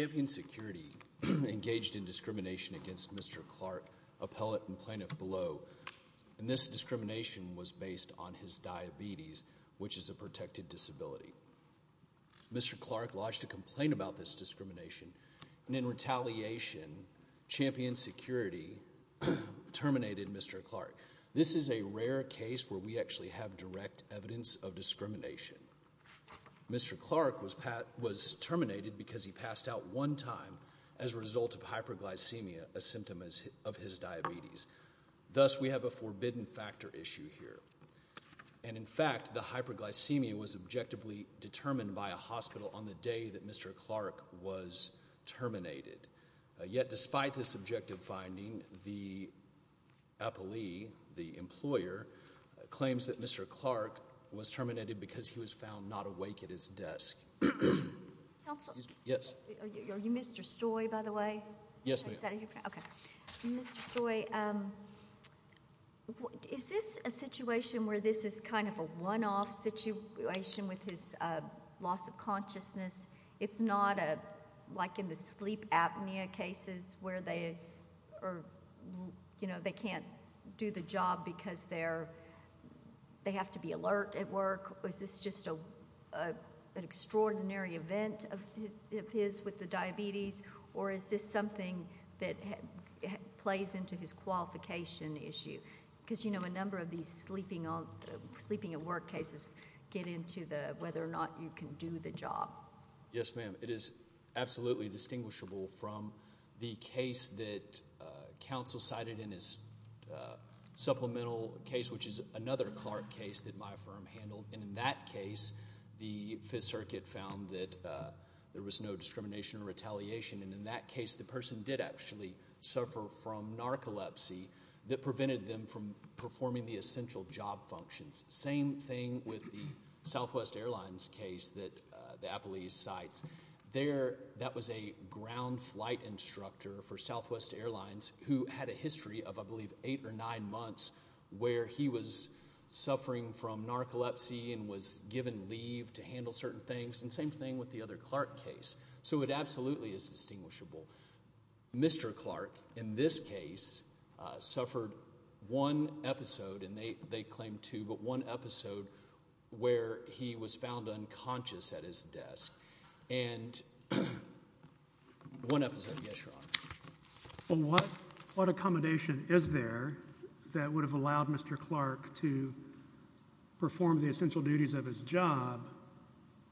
Champion Security engaged in discrimination against Mr. Clark, appellate and plaintiff below, and this discrimination was based on his diabetes, which is a protected disability. Mr. Clark lodged a complaint about this discrimination, and in retaliation, Champion Security terminated Mr. Clark. This is a rare case where we actually have direct evidence of discrimination. Mr. Clark was terminated because he passed out one time as a result of hyperglycemia, a symptom of his diabetes. Thus, we have a forbidden factor issue here. And in fact, the hyperglycemia was objectively determined by a hospital on the day that Mr. Clark was terminated. Yet, despite this objective finding, the appellee, the employer, claims that Mr. Clark was terminated because he was found not awake at his desk. Are you Mr. Stoy, by the way? Yes, ma'am. Mr. Stoy, is this a situation where this is kind of a one-off situation with his loss of consciousness? It's not like in the sleep apnea cases where they can't do the job because they have to be alert at work? Is this just an extraordinary event of his with the diabetes, or is this something that plays into his qualification issue? Because, you know, a number of these sleeping at work cases get into whether or not you can do the job. Yes, ma'am. It is absolutely distinguishable from the case that counsel cited in his supplemental case, which is another Clark case that my firm handled. And in that case, the Fifth Circuit found that there was no discrimination or retaliation. And in that case, the person did actually suffer from narcolepsy that prevented them from performing the essential job functions. Same thing with the Southwest Airlines case that the Apolese cites. That was a ground flight instructor for Southwest Airlines who had a history of, I believe, eight or nine months where he was suffering from narcolepsy and was given leave to handle certain things. And same thing with the other Clark case. So it absolutely is distinguishable. Mr. Clark, in this case, suffered one episode, and they claim two, but one episode where he was found unconscious at his desk. And one episode. Yes, Your Honor. What accommodation is there that would have allowed Mr. Clark to perform the essential duties of his job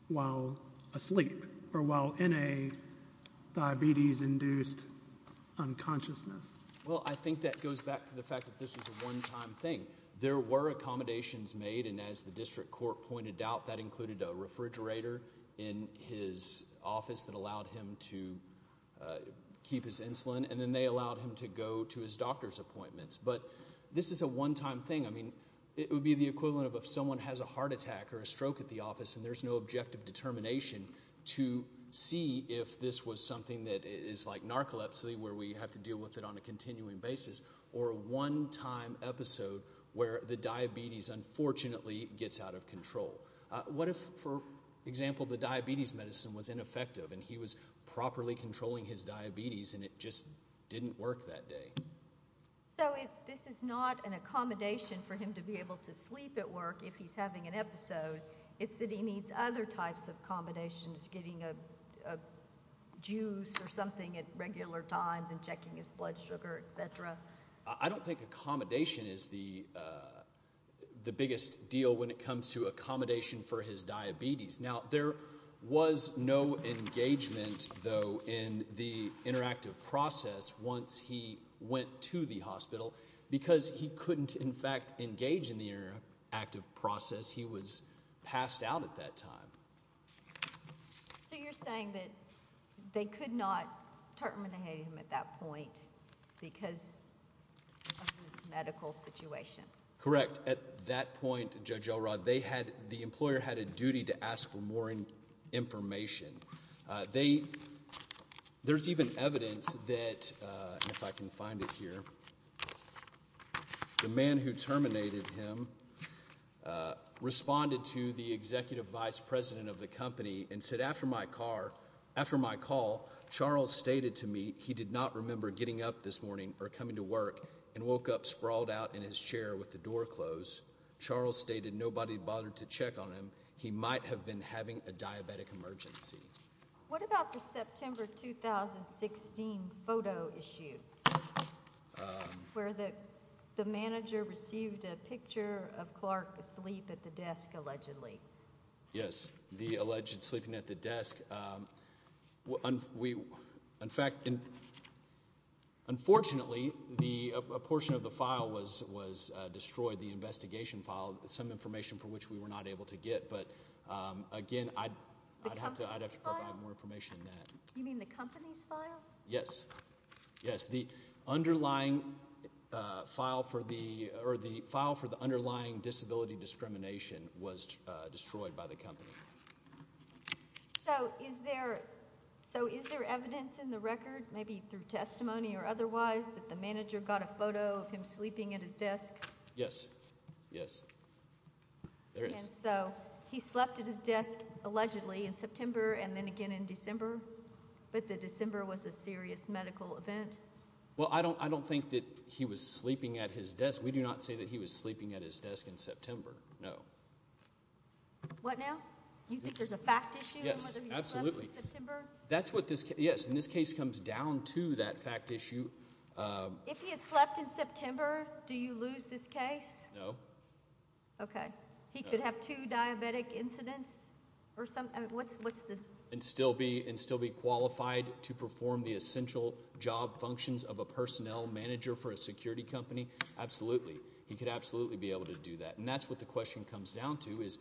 while asleep or while in a diabetes-induced unconsciousness? Well, I think that goes back to the fact that this was a one-time thing. There were accommodations made, and as the district court pointed out, that included a refrigerator in his office that allowed him to keep his insulin. And then they allowed him to go to his doctor's appointments. But this is a one-time thing. I mean, it would be the equivalent of if someone has a heart attack or a stroke at the office and there's no objective determination to see if this was something that is like narcolepsy where we have to deal with it on a continuing basis. Or a one-time episode where the diabetes, unfortunately, gets out of control. What if, for example, the diabetes medicine was ineffective and he was properly controlling his diabetes and it just didn't work that day? So this is not an accommodation for him to be able to sleep at work if he's having an episode. It's that he needs other types of accommodations, getting a juice or something at regular times and checking his blood sugar, etc. I don't think accommodation is the biggest deal when it comes to accommodation for his diabetes. Now, there was no engagement, though, in the interactive process once he went to the hospital because he couldn't, in fact, engage in the interactive process. He was just passed out at that time. So you're saying that they could not terminate him at that point because of his medical situation? Correct. At that point, Judge Elrod, the employer had a duty to ask for more information. There's even evidence that, if I can find it here, the man who terminated him responded to the executive vice president of the company and said, after my call, Charles stated to me he did not remember getting up this morning or coming to work and woke up sprawled out in his chair with the door closed. Charles stated nobody bothered to check on him. He might have been having a diabetic emergency. What about the September 2016 photo issue where the manager received a picture of Clark asleep at the desk, allegedly? Yes, the alleged sleeping at the desk. Unfortunately, a portion of the file was destroyed, the investigation file, some information for which we were not able to get. But, again, I'd have to provide more information on that. You mean the company's file? Yes, yes. The underlying file for the underlying disability discrimination was destroyed by the company. So is there evidence in the record, maybe through testimony or otherwise, that the manager got a photo of him sleeping at his desk? Yes, yes. So he slept at his desk, allegedly, in September and then again in December, but the December was a serious medical event? Well, I don't think that he was sleeping at his desk. We do not say that he was sleeping at his desk in September, no. What now? You think there's a fact issue in whether he slept in September? Yes, absolutely. Yes, and this case comes down to that fact issue. If he had slept in September, do you lose this case? No. Okay. He could have two diabetic incidents? And still be qualified to perform the essential job functions of a personnel manager for a security company? Absolutely. He could absolutely be able to do that, and that's what the question comes down to, is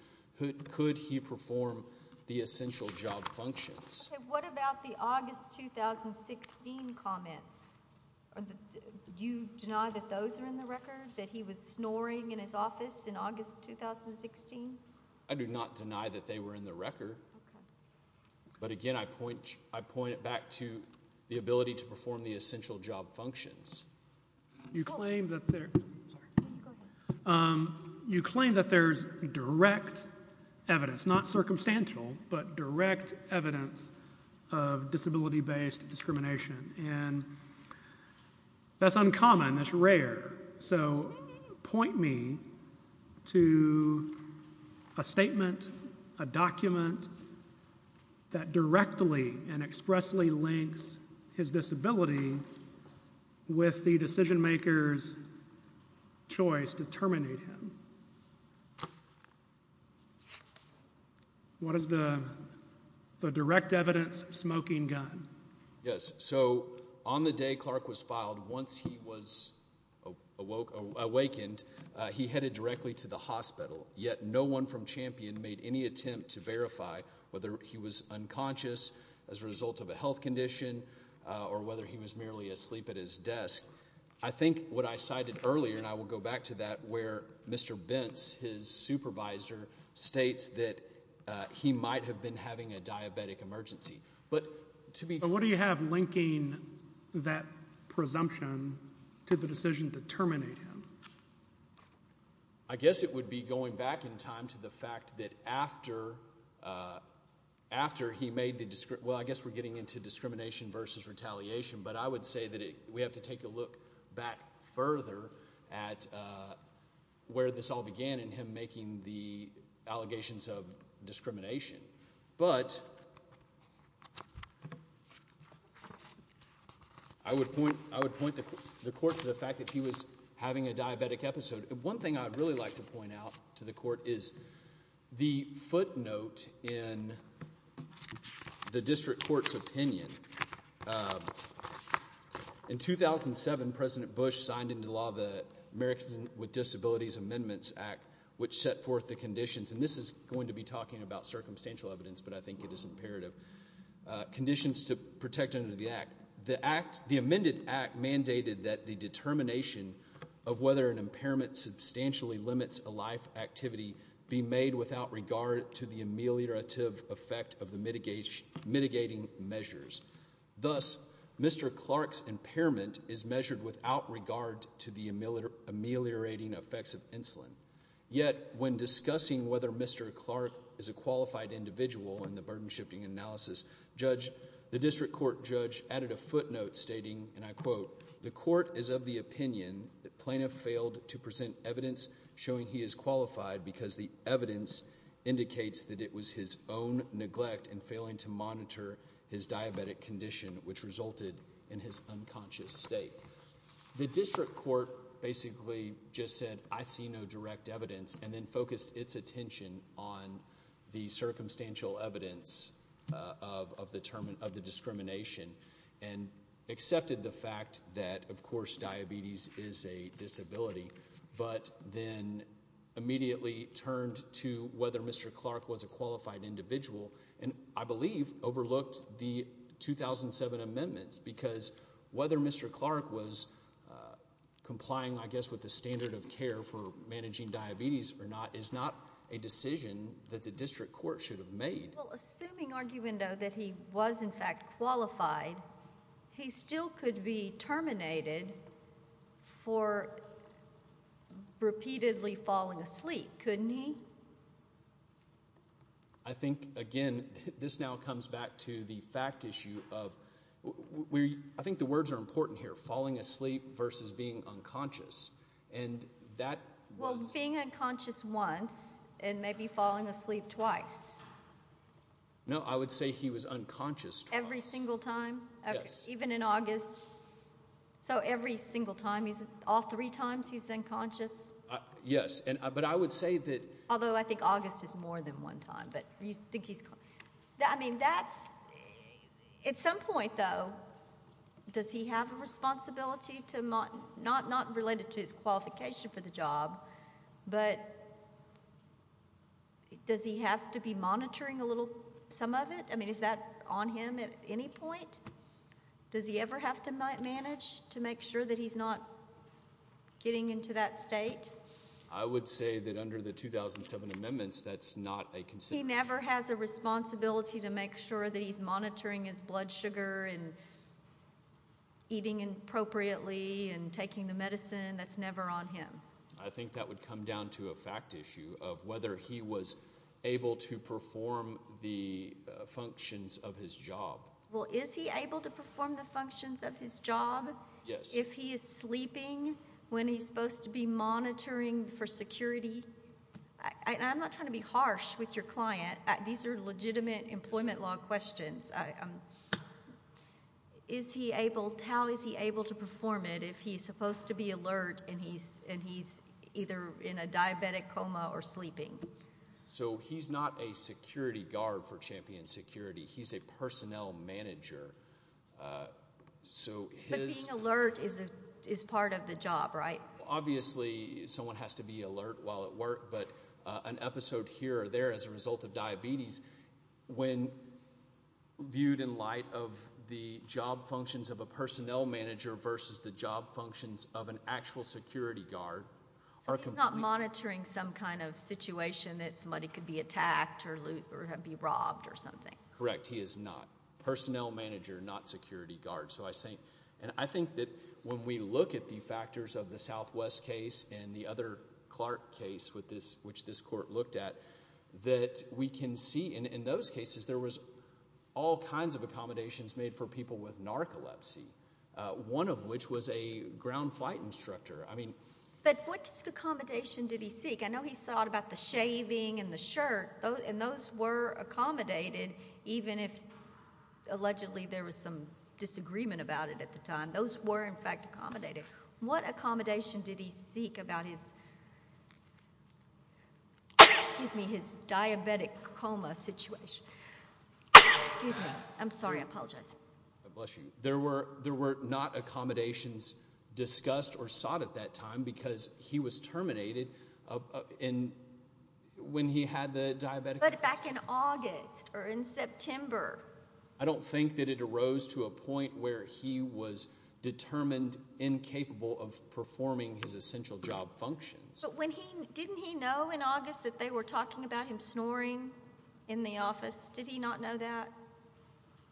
could he perform the essential job functions? Okay, what about the August 2016 comments? Do you deny that those are in the record, that he was snoring in his office in August 2016? I do not deny that they were in the record, but again, I point it back to the ability to perform the essential job functions. You claim that there's direct evidence, not circumstantial, but direct evidence of disability-based discrimination, and that's uncommon, that's rare. So, point me to a statement, a document, that directly and expressly links his disability with the decision-maker's choice to terminate him. What is the direct evidence smoking gun? Yes. So, on the day Clark was filed, once he was awakened, he headed directly to the hospital, yet no one from Champion made any attempt to verify whether he was unconscious, as a result of a health condition, or whether he was merely asleep at his desk. I think what I cited earlier, and I will go back to that, where Mr. Bentz, his supervisor, states that he might have been having a diabetic emergency. But what do you have linking that presumption to the decision to terminate him? I guess it would be going back in time to the fact that after he made the, well, I guess we're getting into discrimination versus retaliation, but I would say that we have to take a look back further at where this all began, and him making the allegations of discrimination. But, I would point the court to the fact that he was having a diabetic episode. One thing I'd really like to point out to the court is the footnote in the district court's opinion. In 2007, President Bush signed into law the Americans with Disabilities Amendments Act, which set forth the conditions, and this is going to be talking about circumstantial evidence, but I think it is imperative, conditions to protect under the act. The amended act mandated that the determination of whether an impairment substantially limits a life activity be made without regard to the ameliorative effect of the mitigating measures. Thus, Mr. Clark's impairment is measured without regard to the ameliorating effects of insulin. Yet, when discussing whether Mr. Clark is a qualified individual in the burden shifting analysis, the district court judge added a footnote stating, and I quote, The evidence indicates that it was his own neglect in failing to monitor his diabetic condition, which resulted in his unconscious state. The district court basically just said, I see no direct evidence, and then focused its attention on the circumstantial evidence of the discrimination, and accepted the fact that, of course, diabetes is a disability, but then immediately turned to whether Mr. Clark was a qualified individual, and I believe overlooked the 2007 amendments, because whether Mr. Clark was complying, I guess, with the standard of care for managing diabetes or not is not a decision that the district court should have made. Well, assuming argument that he was, in fact, qualified, he still could be terminated for repeatedly falling asleep, couldn't he? I think, again, this now comes back to the fact issue of, I think the words are important here, falling asleep versus being unconscious, and that was being unconscious once, and maybe falling asleep twice. No, I would say he was unconscious twice. Every single time? Yes. Even in August? So every single time, all three times he's unconscious? Yes, but I would say that although I think August is more than one time, but you think he's, I mean, that's, at some point, though, does he have a responsibility to, not related to his qualification for the job, but does he have to be monitoring a little, some of it? I mean, is that on him at any point? Does he ever have to manage to make sure that he's not getting into that state? I would say that under the 2007 amendments, that's not a consideration. He never has a responsibility to make sure that he's monitoring his blood sugar and eating appropriately and taking the medicine. That's never on him. I think that would come down to a fact issue of whether he was able to perform the functions of his job. Well, is he able to perform the functions of his job? Yes. If he is sleeping, when he's supposed to be monitoring for security? I'm not trying to be harsh with your client. These are legitimate employment law questions. Is he able, how is he able to perform it if he's supposed to be alert and he's either in a diabetic coma or sleeping? So, he's not a security guard for Champion Security. He's a personnel manager. But being alert is part of the job, right? Obviously, someone has to be alert while at work, but an episode here or there as a result of diabetes, when viewed in light of the job functions of a personnel manager versus the job functions of an actual security guard. So, he's not monitoring some kind of situation that somebody could be attacked or be robbed or something? Correct. He is not. Personnel manager, not security guard. And I think that when we look at the factors of the Southwest case and the other Clark case, which this court looked at, that we can see in those cases there was all kinds of accommodations made for people with narcolepsy, one of which was a ground flight instructor. But what accommodation did he seek? I know he sought about the shaving and the shirt, and those were accommodated, even if allegedly there was some disagreement about it at the time. Those were, in fact, accommodated. What accommodation did he seek about his diabetic coma situation? Excuse me. I'm sorry. I apologize. Bless you. There were not accommodations discussed or sought at that time because he was terminated when he had the diabetic coma. But back in August or in September. I don't think that it arose to a point where he was determined incapable of performing his essential job functions. But didn't he know in August that they were talking about him snoring in the office? Did he not know that?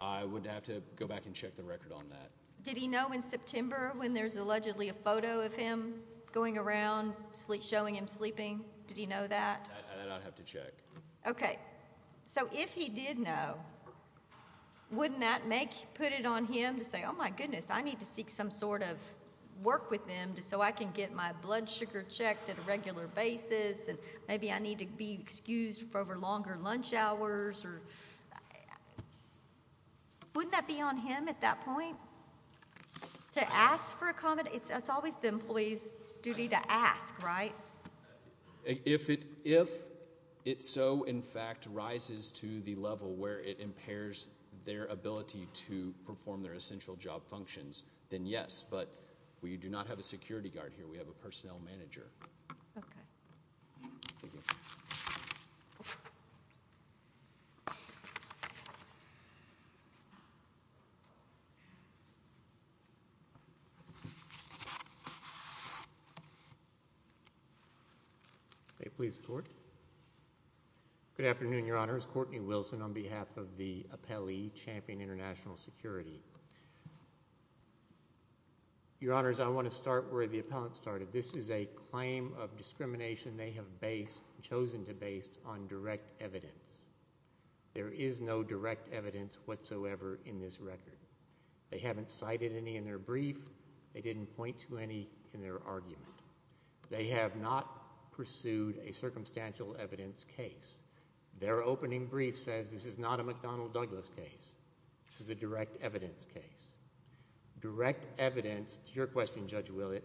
I would have to go back and check the record on that. Did he know in September when there's allegedly a photo of him going around showing him sleeping? Did he know that? I'd have to check. Okay. So if he did know, wouldn't that put it on him to say, oh, my goodness, I need to seek some sort of work with him so I can get my blood sugar checked at a regular basis, and maybe I need to be excused for longer lunch hours? Wouldn't that be on him at that point to ask for accommodation? It's always the employee's duty to ask, right? If it so, in fact, rises to the level where it impairs their ability to perform their essential job functions, then yes. But we do not have a security guard here. We have a personnel manager. Okay. May it please the Court. Good afternoon, Your Honors. Courtney Wilson on behalf of the appellee, Champion International Security. Your Honors, I want to start where the appellant started. This is a claim of discrimination they have based, chosen to base, on direct evidence. There is no direct evidence whatsoever in this record. They haven't cited any in their brief. They didn't point to any in their argument. They have not pursued a circumstantial evidence case. Their opening brief says this is not a McDonnell Douglas case. This is a direct evidence case. Direct evidence, to your question, Judge Willett,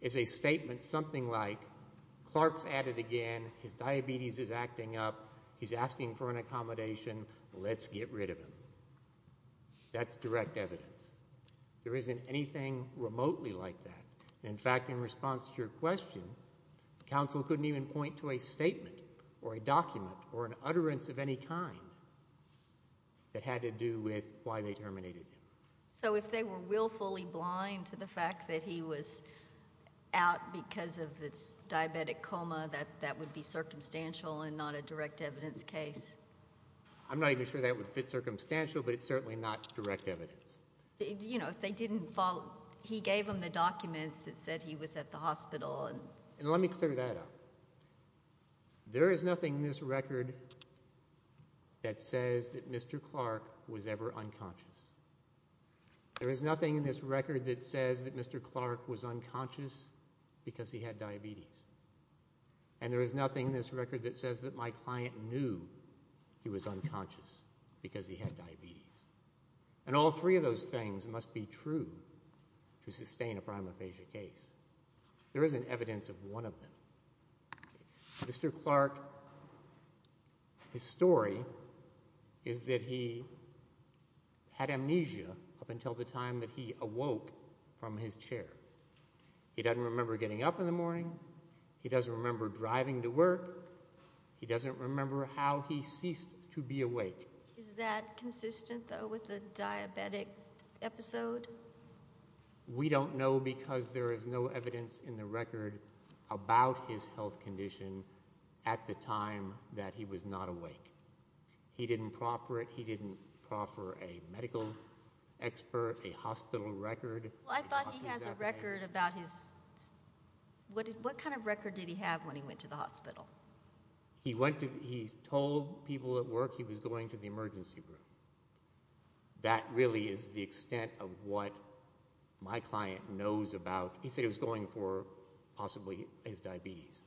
is a statement something like, Clark's at it again. His diabetes is acting up. He's asking for an accommodation. Let's get rid of him. That's direct evidence. There isn't anything remotely like that. In fact, in response to your question, counsel couldn't even point to a statement or a document or an utterance of any kind that had to do with why they terminated him. So if they were willfully blind to the fact that he was out because of his diabetic coma, that would be circumstantial and not a direct evidence case? I'm not even sure that would fit circumstantial, but it's certainly not direct evidence. If they didn't follow, he gave them the documents that said he was at the hospital. Let me clear that up. There is nothing in this record that says that Mr. Clark was ever unconscious. There is nothing in this record that says that Mr. Clark was unconscious because he had diabetes. And there is nothing in this record that says that my client knew he was unconscious because he had diabetes. And all three of those things must be true to sustain a primophagia case. There isn't evidence of one of them. Mr. Clark, his story is that he had amnesia up until the time that he awoke from his chair. He doesn't remember getting up in the morning. He doesn't remember driving to work. He doesn't remember how he ceased to be awake. Is that consistent, though, with the diabetic episode? We don't know because there is no evidence in the record about his health condition at the time that he was not awake. He didn't proffer it. He didn't proffer a medical expert, a hospital record. I thought he has a record about his – what kind of record did he have when he went to the hospital? He went to – he told people at work he was going to the emergency room. That really is the extent of what my client knows about – he said he was going for possibly his diabetes.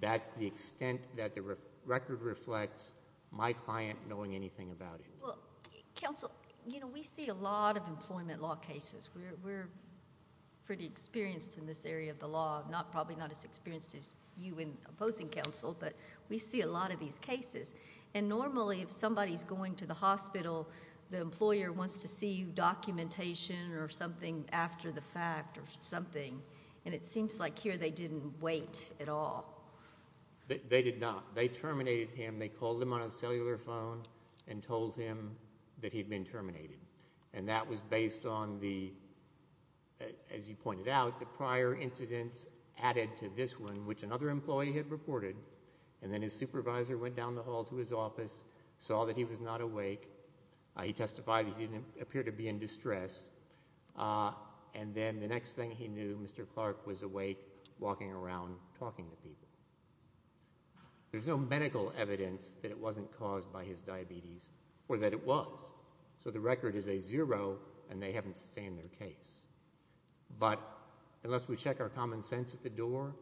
That's the extent that the record reflects my client knowing anything about it. Well, counsel, you know, we see a lot of employment law cases. We're pretty experienced in this area of the law, probably not as experienced as you in opposing counsel. But we see a lot of these cases. And normally if somebody is going to the hospital, the employer wants to see documentation or something after the fact or something. And it seems like here they didn't wait at all. They did not. They terminated him. They called him on a cellular phone and told him that he had been terminated. And that was based on the – as you pointed out, the prior incidents added to this one, which another employee had reported. And then his supervisor went down the hall to his office, saw that he was not awake. He testified he didn't appear to be in distress. And then the next thing he knew, Mr. Clark was awake, walking around, talking to people. There's no medical evidence that it wasn't caused by his diabetes or that it was. So the record is a zero, and they haven't sustained their case. But unless we check our common sense at the door,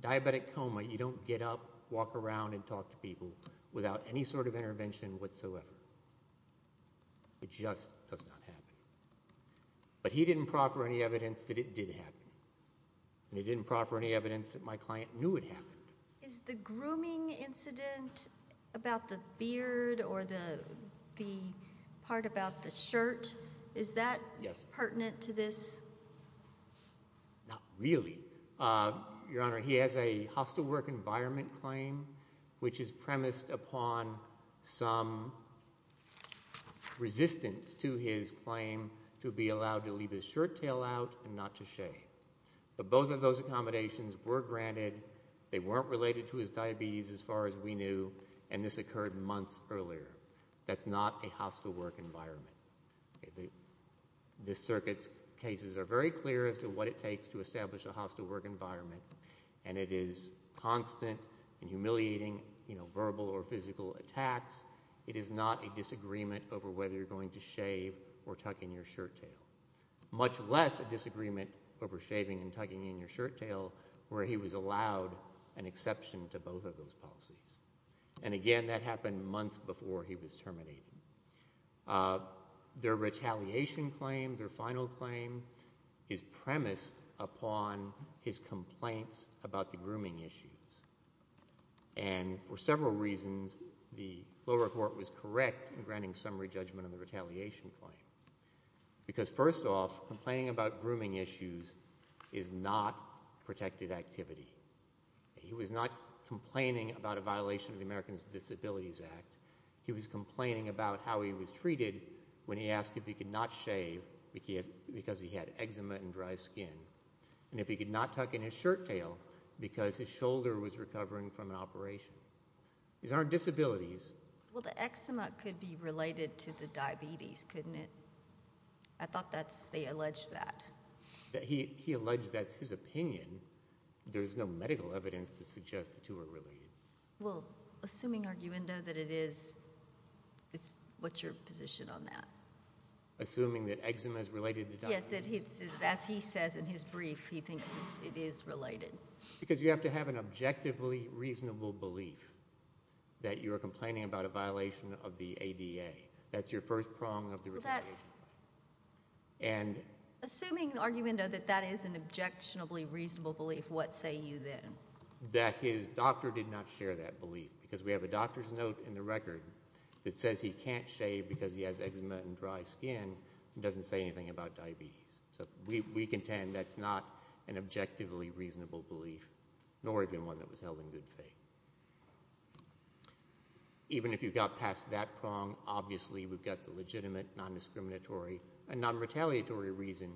diabetic coma, you don't get up, walk around, and talk to people without any sort of intervention whatsoever. It just does not happen. But he didn't proffer any evidence that it did happen. And he didn't proffer any evidence that my client knew it happened. Is the grooming incident about the beard or the part about the shirt, is that pertinent to this? Not really. Your Honor, he has a hostile work environment claim, which is premised upon some resistance to his claim to be allowed to leave his shirt tail out and not to shave. But both of those accommodations were granted. They weren't related to his diabetes as far as we knew, and this occurred months earlier. That's not a hostile work environment. The circuit's cases are very clear as to what it takes to establish a hostile work environment, and it is constant and humiliating verbal or physical attacks. It is not a disagreement over whether you're going to shave or tuck in your shirt tail, much less a disagreement over shaving and tucking in your shirt tail where he was allowed an exception to both of those policies. And, again, that happened months before he was terminated. Their retaliation claim, their final claim, is premised upon his complaints about the grooming issues. And for several reasons, the lower court was correct in granting summary judgment on the retaliation claim. Because, first off, complaining about grooming issues is not protected activity. He was not complaining about a violation of the Americans with Disabilities Act. He was complaining about how he was treated when he asked if he could not shave because he had eczema and dry skin, and if he could not tuck in his shirt tail because his shoulder was recovering from an operation. These aren't disabilities. Well, the eczema could be related to the diabetes, couldn't it? I thought they alleged that. He alleged that's his opinion. There's no medical evidence to suggest the two are related. Well, assuming arguendo that it is, what's your position on that? Assuming that eczema is related to diabetes? Yes, as he says in his brief, he thinks it is related. Because you have to have an objectively reasonable belief that you are complaining about a violation of the ADA. That's your first prong of the retaliation. Assuming arguendo that that is an objectionably reasonable belief, what say you then? That his doctor did not share that belief because we have a doctor's note in the record that says he can't shave because he has eczema and dry skin and doesn't say anything about diabetes. We contend that's not an objectively reasonable belief, nor even one that was held in good faith. Even if you got past that prong, obviously we've got the legitimate, non-discriminatory, and non-retaliatory reason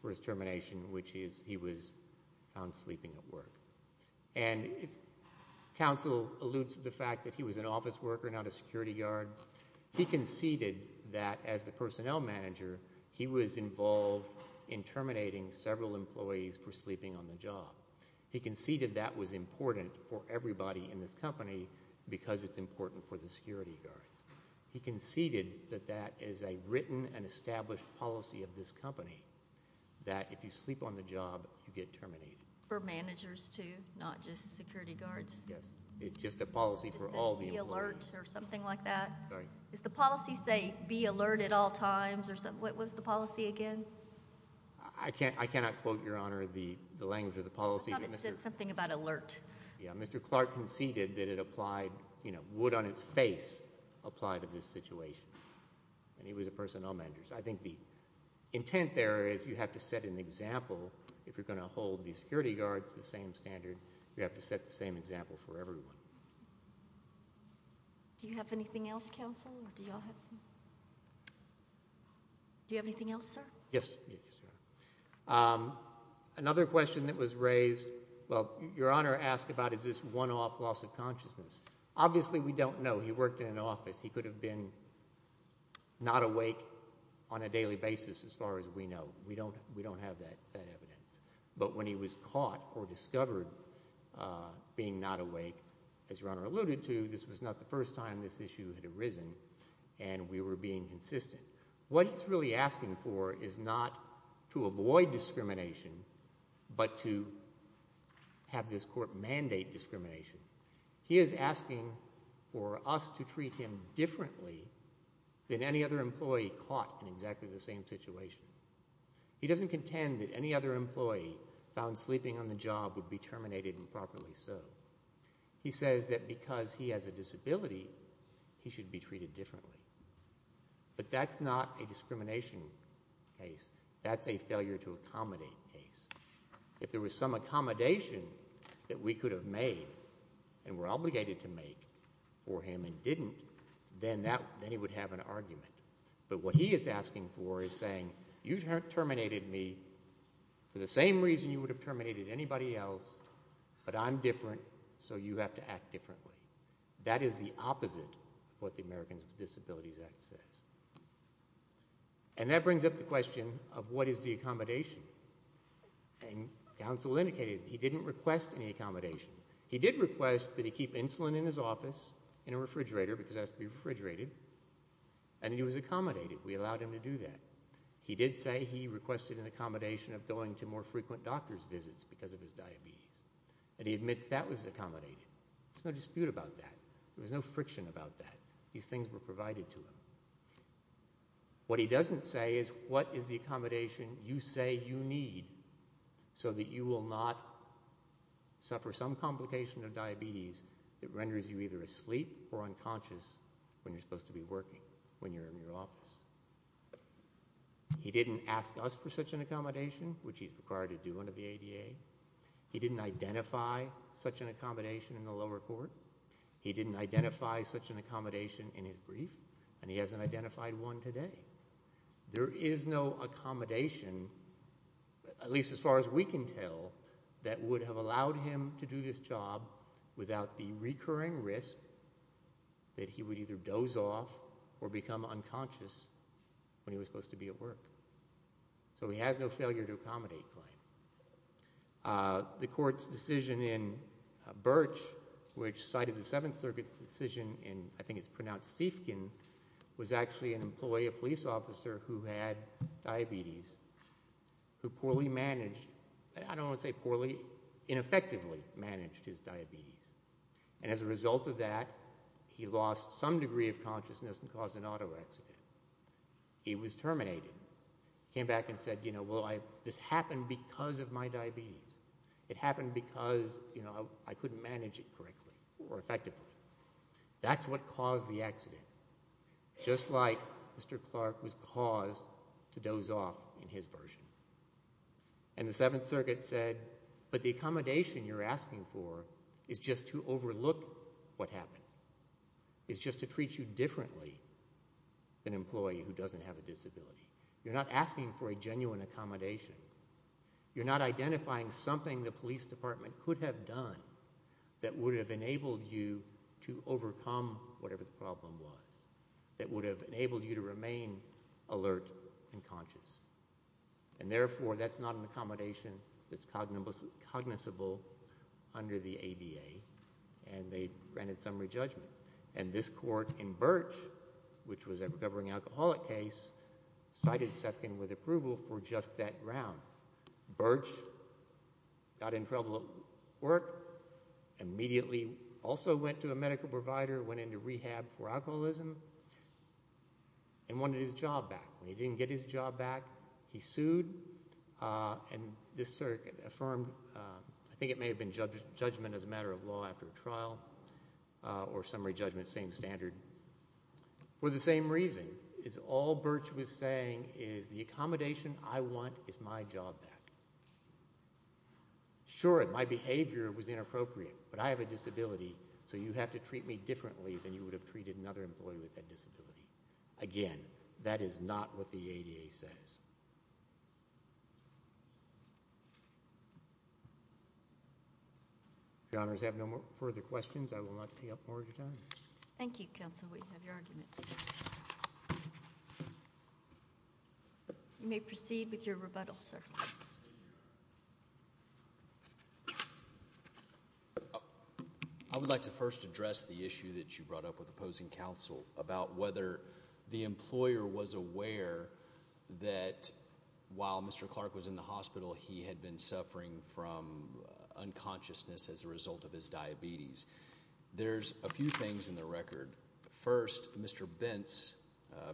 for his termination, which is he was found sleeping at work. And counsel alludes to the fact that he was an office worker, not a security guard. He conceded that as the personnel manager, he was involved in terminating several employees for sleeping on the job. He conceded that was important for everybody in this company because it's important for the security guards. He conceded that that is a written and established policy of this company, that if you sleep on the job, you get terminated. For managers too, not just security guards? Yes, it's just a policy for all the employees. Is the policy say be alert at all times? What was the policy again? I cannot quote, Your Honor, the language of the policy. I thought it said something about alert. Mr. Clark conceded that it would on its face apply to this situation, and he was a personnel manager. So I think the intent there is you have to set an example if you're going to hold the security guards to the same standard. You have to set the same example for everyone. Do you have anything else, counsel? Do you have anything else, sir? Yes, Your Honor. Another question that was raised, well, Your Honor asked about is this one-off loss of consciousness. Obviously, we don't know. He worked in an office. He could have been not awake on a daily basis as far as we know. We don't have that evidence. But when he was caught or discovered being not awake, as Your Honor alluded to, this was not the first time this issue had arisen, and we were being consistent. What he's really asking for is not to avoid discrimination but to have this court mandate discrimination. He is asking for us to treat him differently than any other employee caught in exactly the same situation. He doesn't contend that any other employee found sleeping on the job would be terminated improperly so. He says that because he has a disability, he should be treated differently. But that's not a discrimination case. That's a failure-to-accommodate case. If there was some accommodation that we could have made and were obligated to make for him and didn't, then he would have an argument. But what he is asking for is saying, you terminated me for the same reason you would have terminated anybody else, but I'm different, so you have to act differently. That is the opposite of what the Americans with Disabilities Act says. And that brings up the question of what is the accommodation. And counsel indicated he didn't request any accommodation. He did request that he keep insulin in his office in a refrigerator because it has to be refrigerated, and he was accommodated. We allowed him to do that. He did say he requested an accommodation of going to more frequent doctor's visits because of his diabetes, and he admits that was accommodated. There's no dispute about that. There was no friction about that. These things were provided to him. What he doesn't say is what is the accommodation you say you need so that you will not suffer some complication of diabetes that renders you either asleep or unconscious when you're supposed to be working, when you're in your office. He didn't ask us for such an accommodation, which he's required to do under the ADA. He didn't identify such an accommodation in the lower court. He didn't identify such an accommodation in his brief, and he hasn't identified one today. There is no accommodation, at least as far as we can tell, that would have allowed him to do this job without the recurring risk that he would either doze off or become unconscious when he was supposed to be at work. So he has no failure to accommodate claim. The court's decision in Birch, which cited the Seventh Circuit's decision in, I think it's pronounced Seifkin, was actually an employee, a police officer who had diabetes, who poorly managed, I don't want to say poorly, ineffectively managed his diabetes. And as a result of that, he lost some degree of consciousness and caused an auto accident. He was terminated. He came back and said, well, this happened because of my diabetes. It happened because I couldn't manage it correctly or effectively. That's what caused the accident, just like Mr. Clark was caused to doze off in his version. And the Seventh Circuit said, but the accommodation you're asking for is just to overlook what happened. It's just to treat you differently than an employee who doesn't have a disability. You're not asking for a genuine accommodation. You're not identifying something the police department could have done that would have enabled you to overcome whatever the problem was, that would have enabled you to remain alert and conscious. And therefore, that's not an accommodation that's cognizable under the ADA, and they granted summary judgment. And this court in Birch, which was a recovering alcoholic case, cited Seifkin with approval for just that round. Birch got in trouble at work, immediately also went to a medical provider, went into rehab for alcoholism, and wanted his job back. When he didn't get his job back, he sued, and this circuit affirmed – I think it may have been judgment as a matter of law after a trial or summary judgment, same standard. For the same reason, all Birch was saying is the accommodation I want is my job back. Sure, my behavior was inappropriate, but I have a disability, so you have to treat me differently than you would have treated another employee with that disability. Again, that is not what the ADA says. If your honors have no further questions, I will not take up more of your time. Thank you, Counsel. We have your argument. I would like to first address the issue that you brought up with opposing counsel about whether the employer was aware that while Mr. Clark was in the hospital, he had been suffering from unconsciousness as a result of his diabetes. There's a few things in the record. First, Mr. Bents,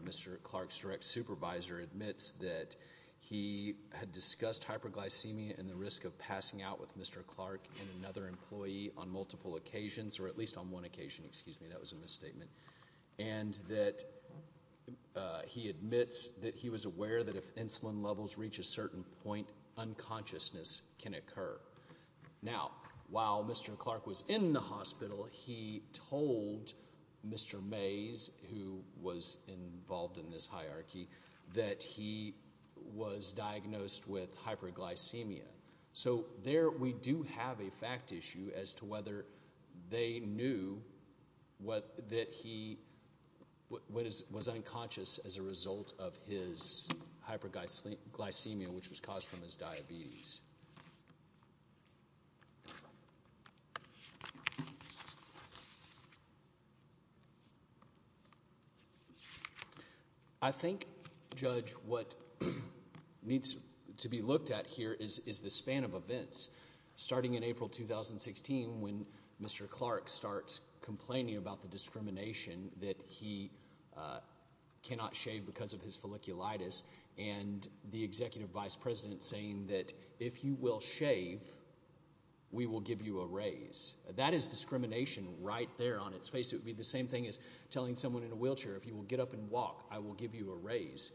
Mr. Clark's direct supervisor, admits that he had discussed hyperglycemia and the risk of passing out with Mr. Clark and another employee on multiple occasions, or at least on one occasion. Excuse me, that was a misstatement. And that he admits that he was aware that if insulin levels reach a certain point, unconsciousness can occur. Now, while Mr. Clark was in the hospital, he told Mr. Mays, who was involved in this hierarchy, that he was diagnosed with hyperglycemia. So there we do have a fact issue as to whether they knew that he was unconscious as a result of his hyperglycemia, which was caused from his diabetes. I think, Judge, what needs to be looked at here is the span of events. And the executive vice president saying that if you will shave, we will give you a raise. That is discrimination right there on its face. It would be the same thing as telling someone in a wheelchair, if you will get up and walk, I will give you a raise.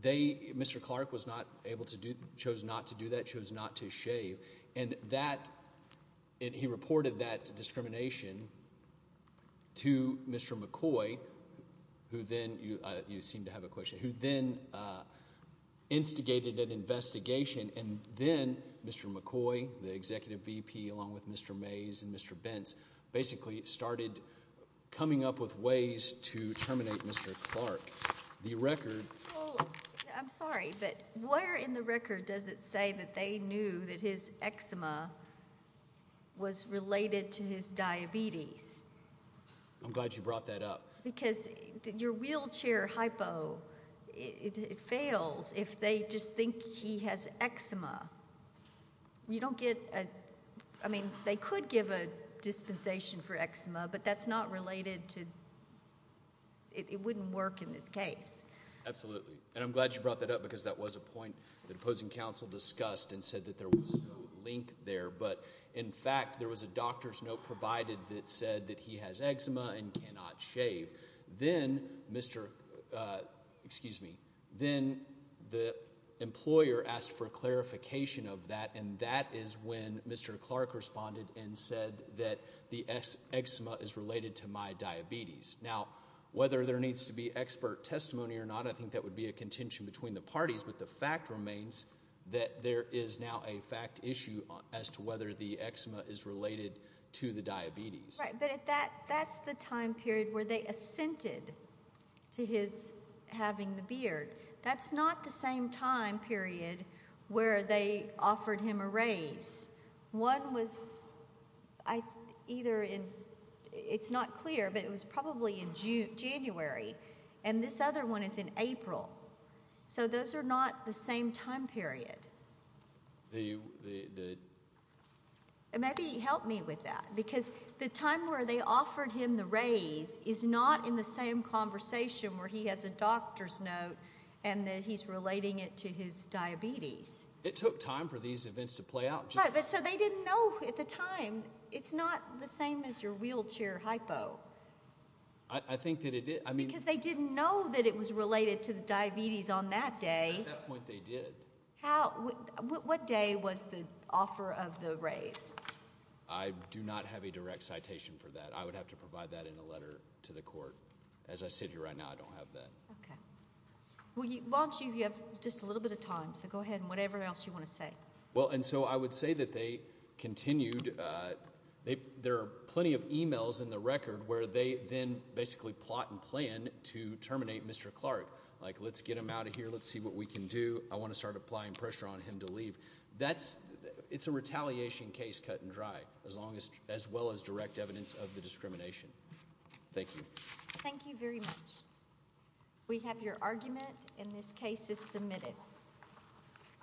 They, Mr. Clark, was not able to do, chose not to do that, chose not to shave. And that, he reported that discrimination to Mr. McCoy, who then, you seem to have a question, who then instigated an investigation. And then Mr. McCoy, the executive VP, along with Mr. Mays and Mr. Bentz, basically started coming up with ways to terminate Mr. Clark. I'm sorry, but where in the record does it say that they knew that his eczema was related to his diabetes? I'm glad you brought that up. Because your wheelchair hypo, it fails if they just think he has eczema. You don't get, I mean, they could give a dispensation for eczema, but that's not related to, it wouldn't work in this case. Absolutely. And I'm glad you brought that up because that was a point the opposing counsel discussed and said that there was no link there. But, in fact, there was a doctor's note provided that said that he has eczema and cannot shave. Then the employer asked for clarification of that, and that is when Mr. Clark responded and said that the eczema is related to my diabetes. Now, whether there needs to be expert testimony or not, I think that would be a contention between the parties. But the fact remains that there is now a fact issue as to whether the eczema is related to the diabetes. Right, but that's the time period where they assented to his having the beard. That's not the same time period where they offered him a raise. One was either in, it's not clear, but it was probably in January, and this other one is in April. So those are not the same time period. Maybe help me with that because the time where they offered him the raise is not in the same conversation where he has a doctor's note and that he's relating it to his diabetes. It took time for these events to play out. Right, but so they didn't know at the time. It's not the same as your wheelchair hypo. I think that it is. Because they didn't know that it was related to the diabetes on that day. At that point they did. What day was the offer of the raise? I do not have a direct citation for that. I would have to provide that in a letter to the court. As I sit here right now, I don't have that. Okay. Why don't you, you have just a little bit of time, so go ahead and whatever else you want to say. Well, and so I would say that they continued, there are plenty of emails in the record where they then basically plot and plan to terminate Mr. Clark. Like, let's get him out of here. Let's see what we can do. I want to start applying pressure on him to leave. That's, it's a retaliation case cut and dry as long as, as well as direct evidence of the discrimination. Thank you. Thank you very much. We have your argument and this case is submitted.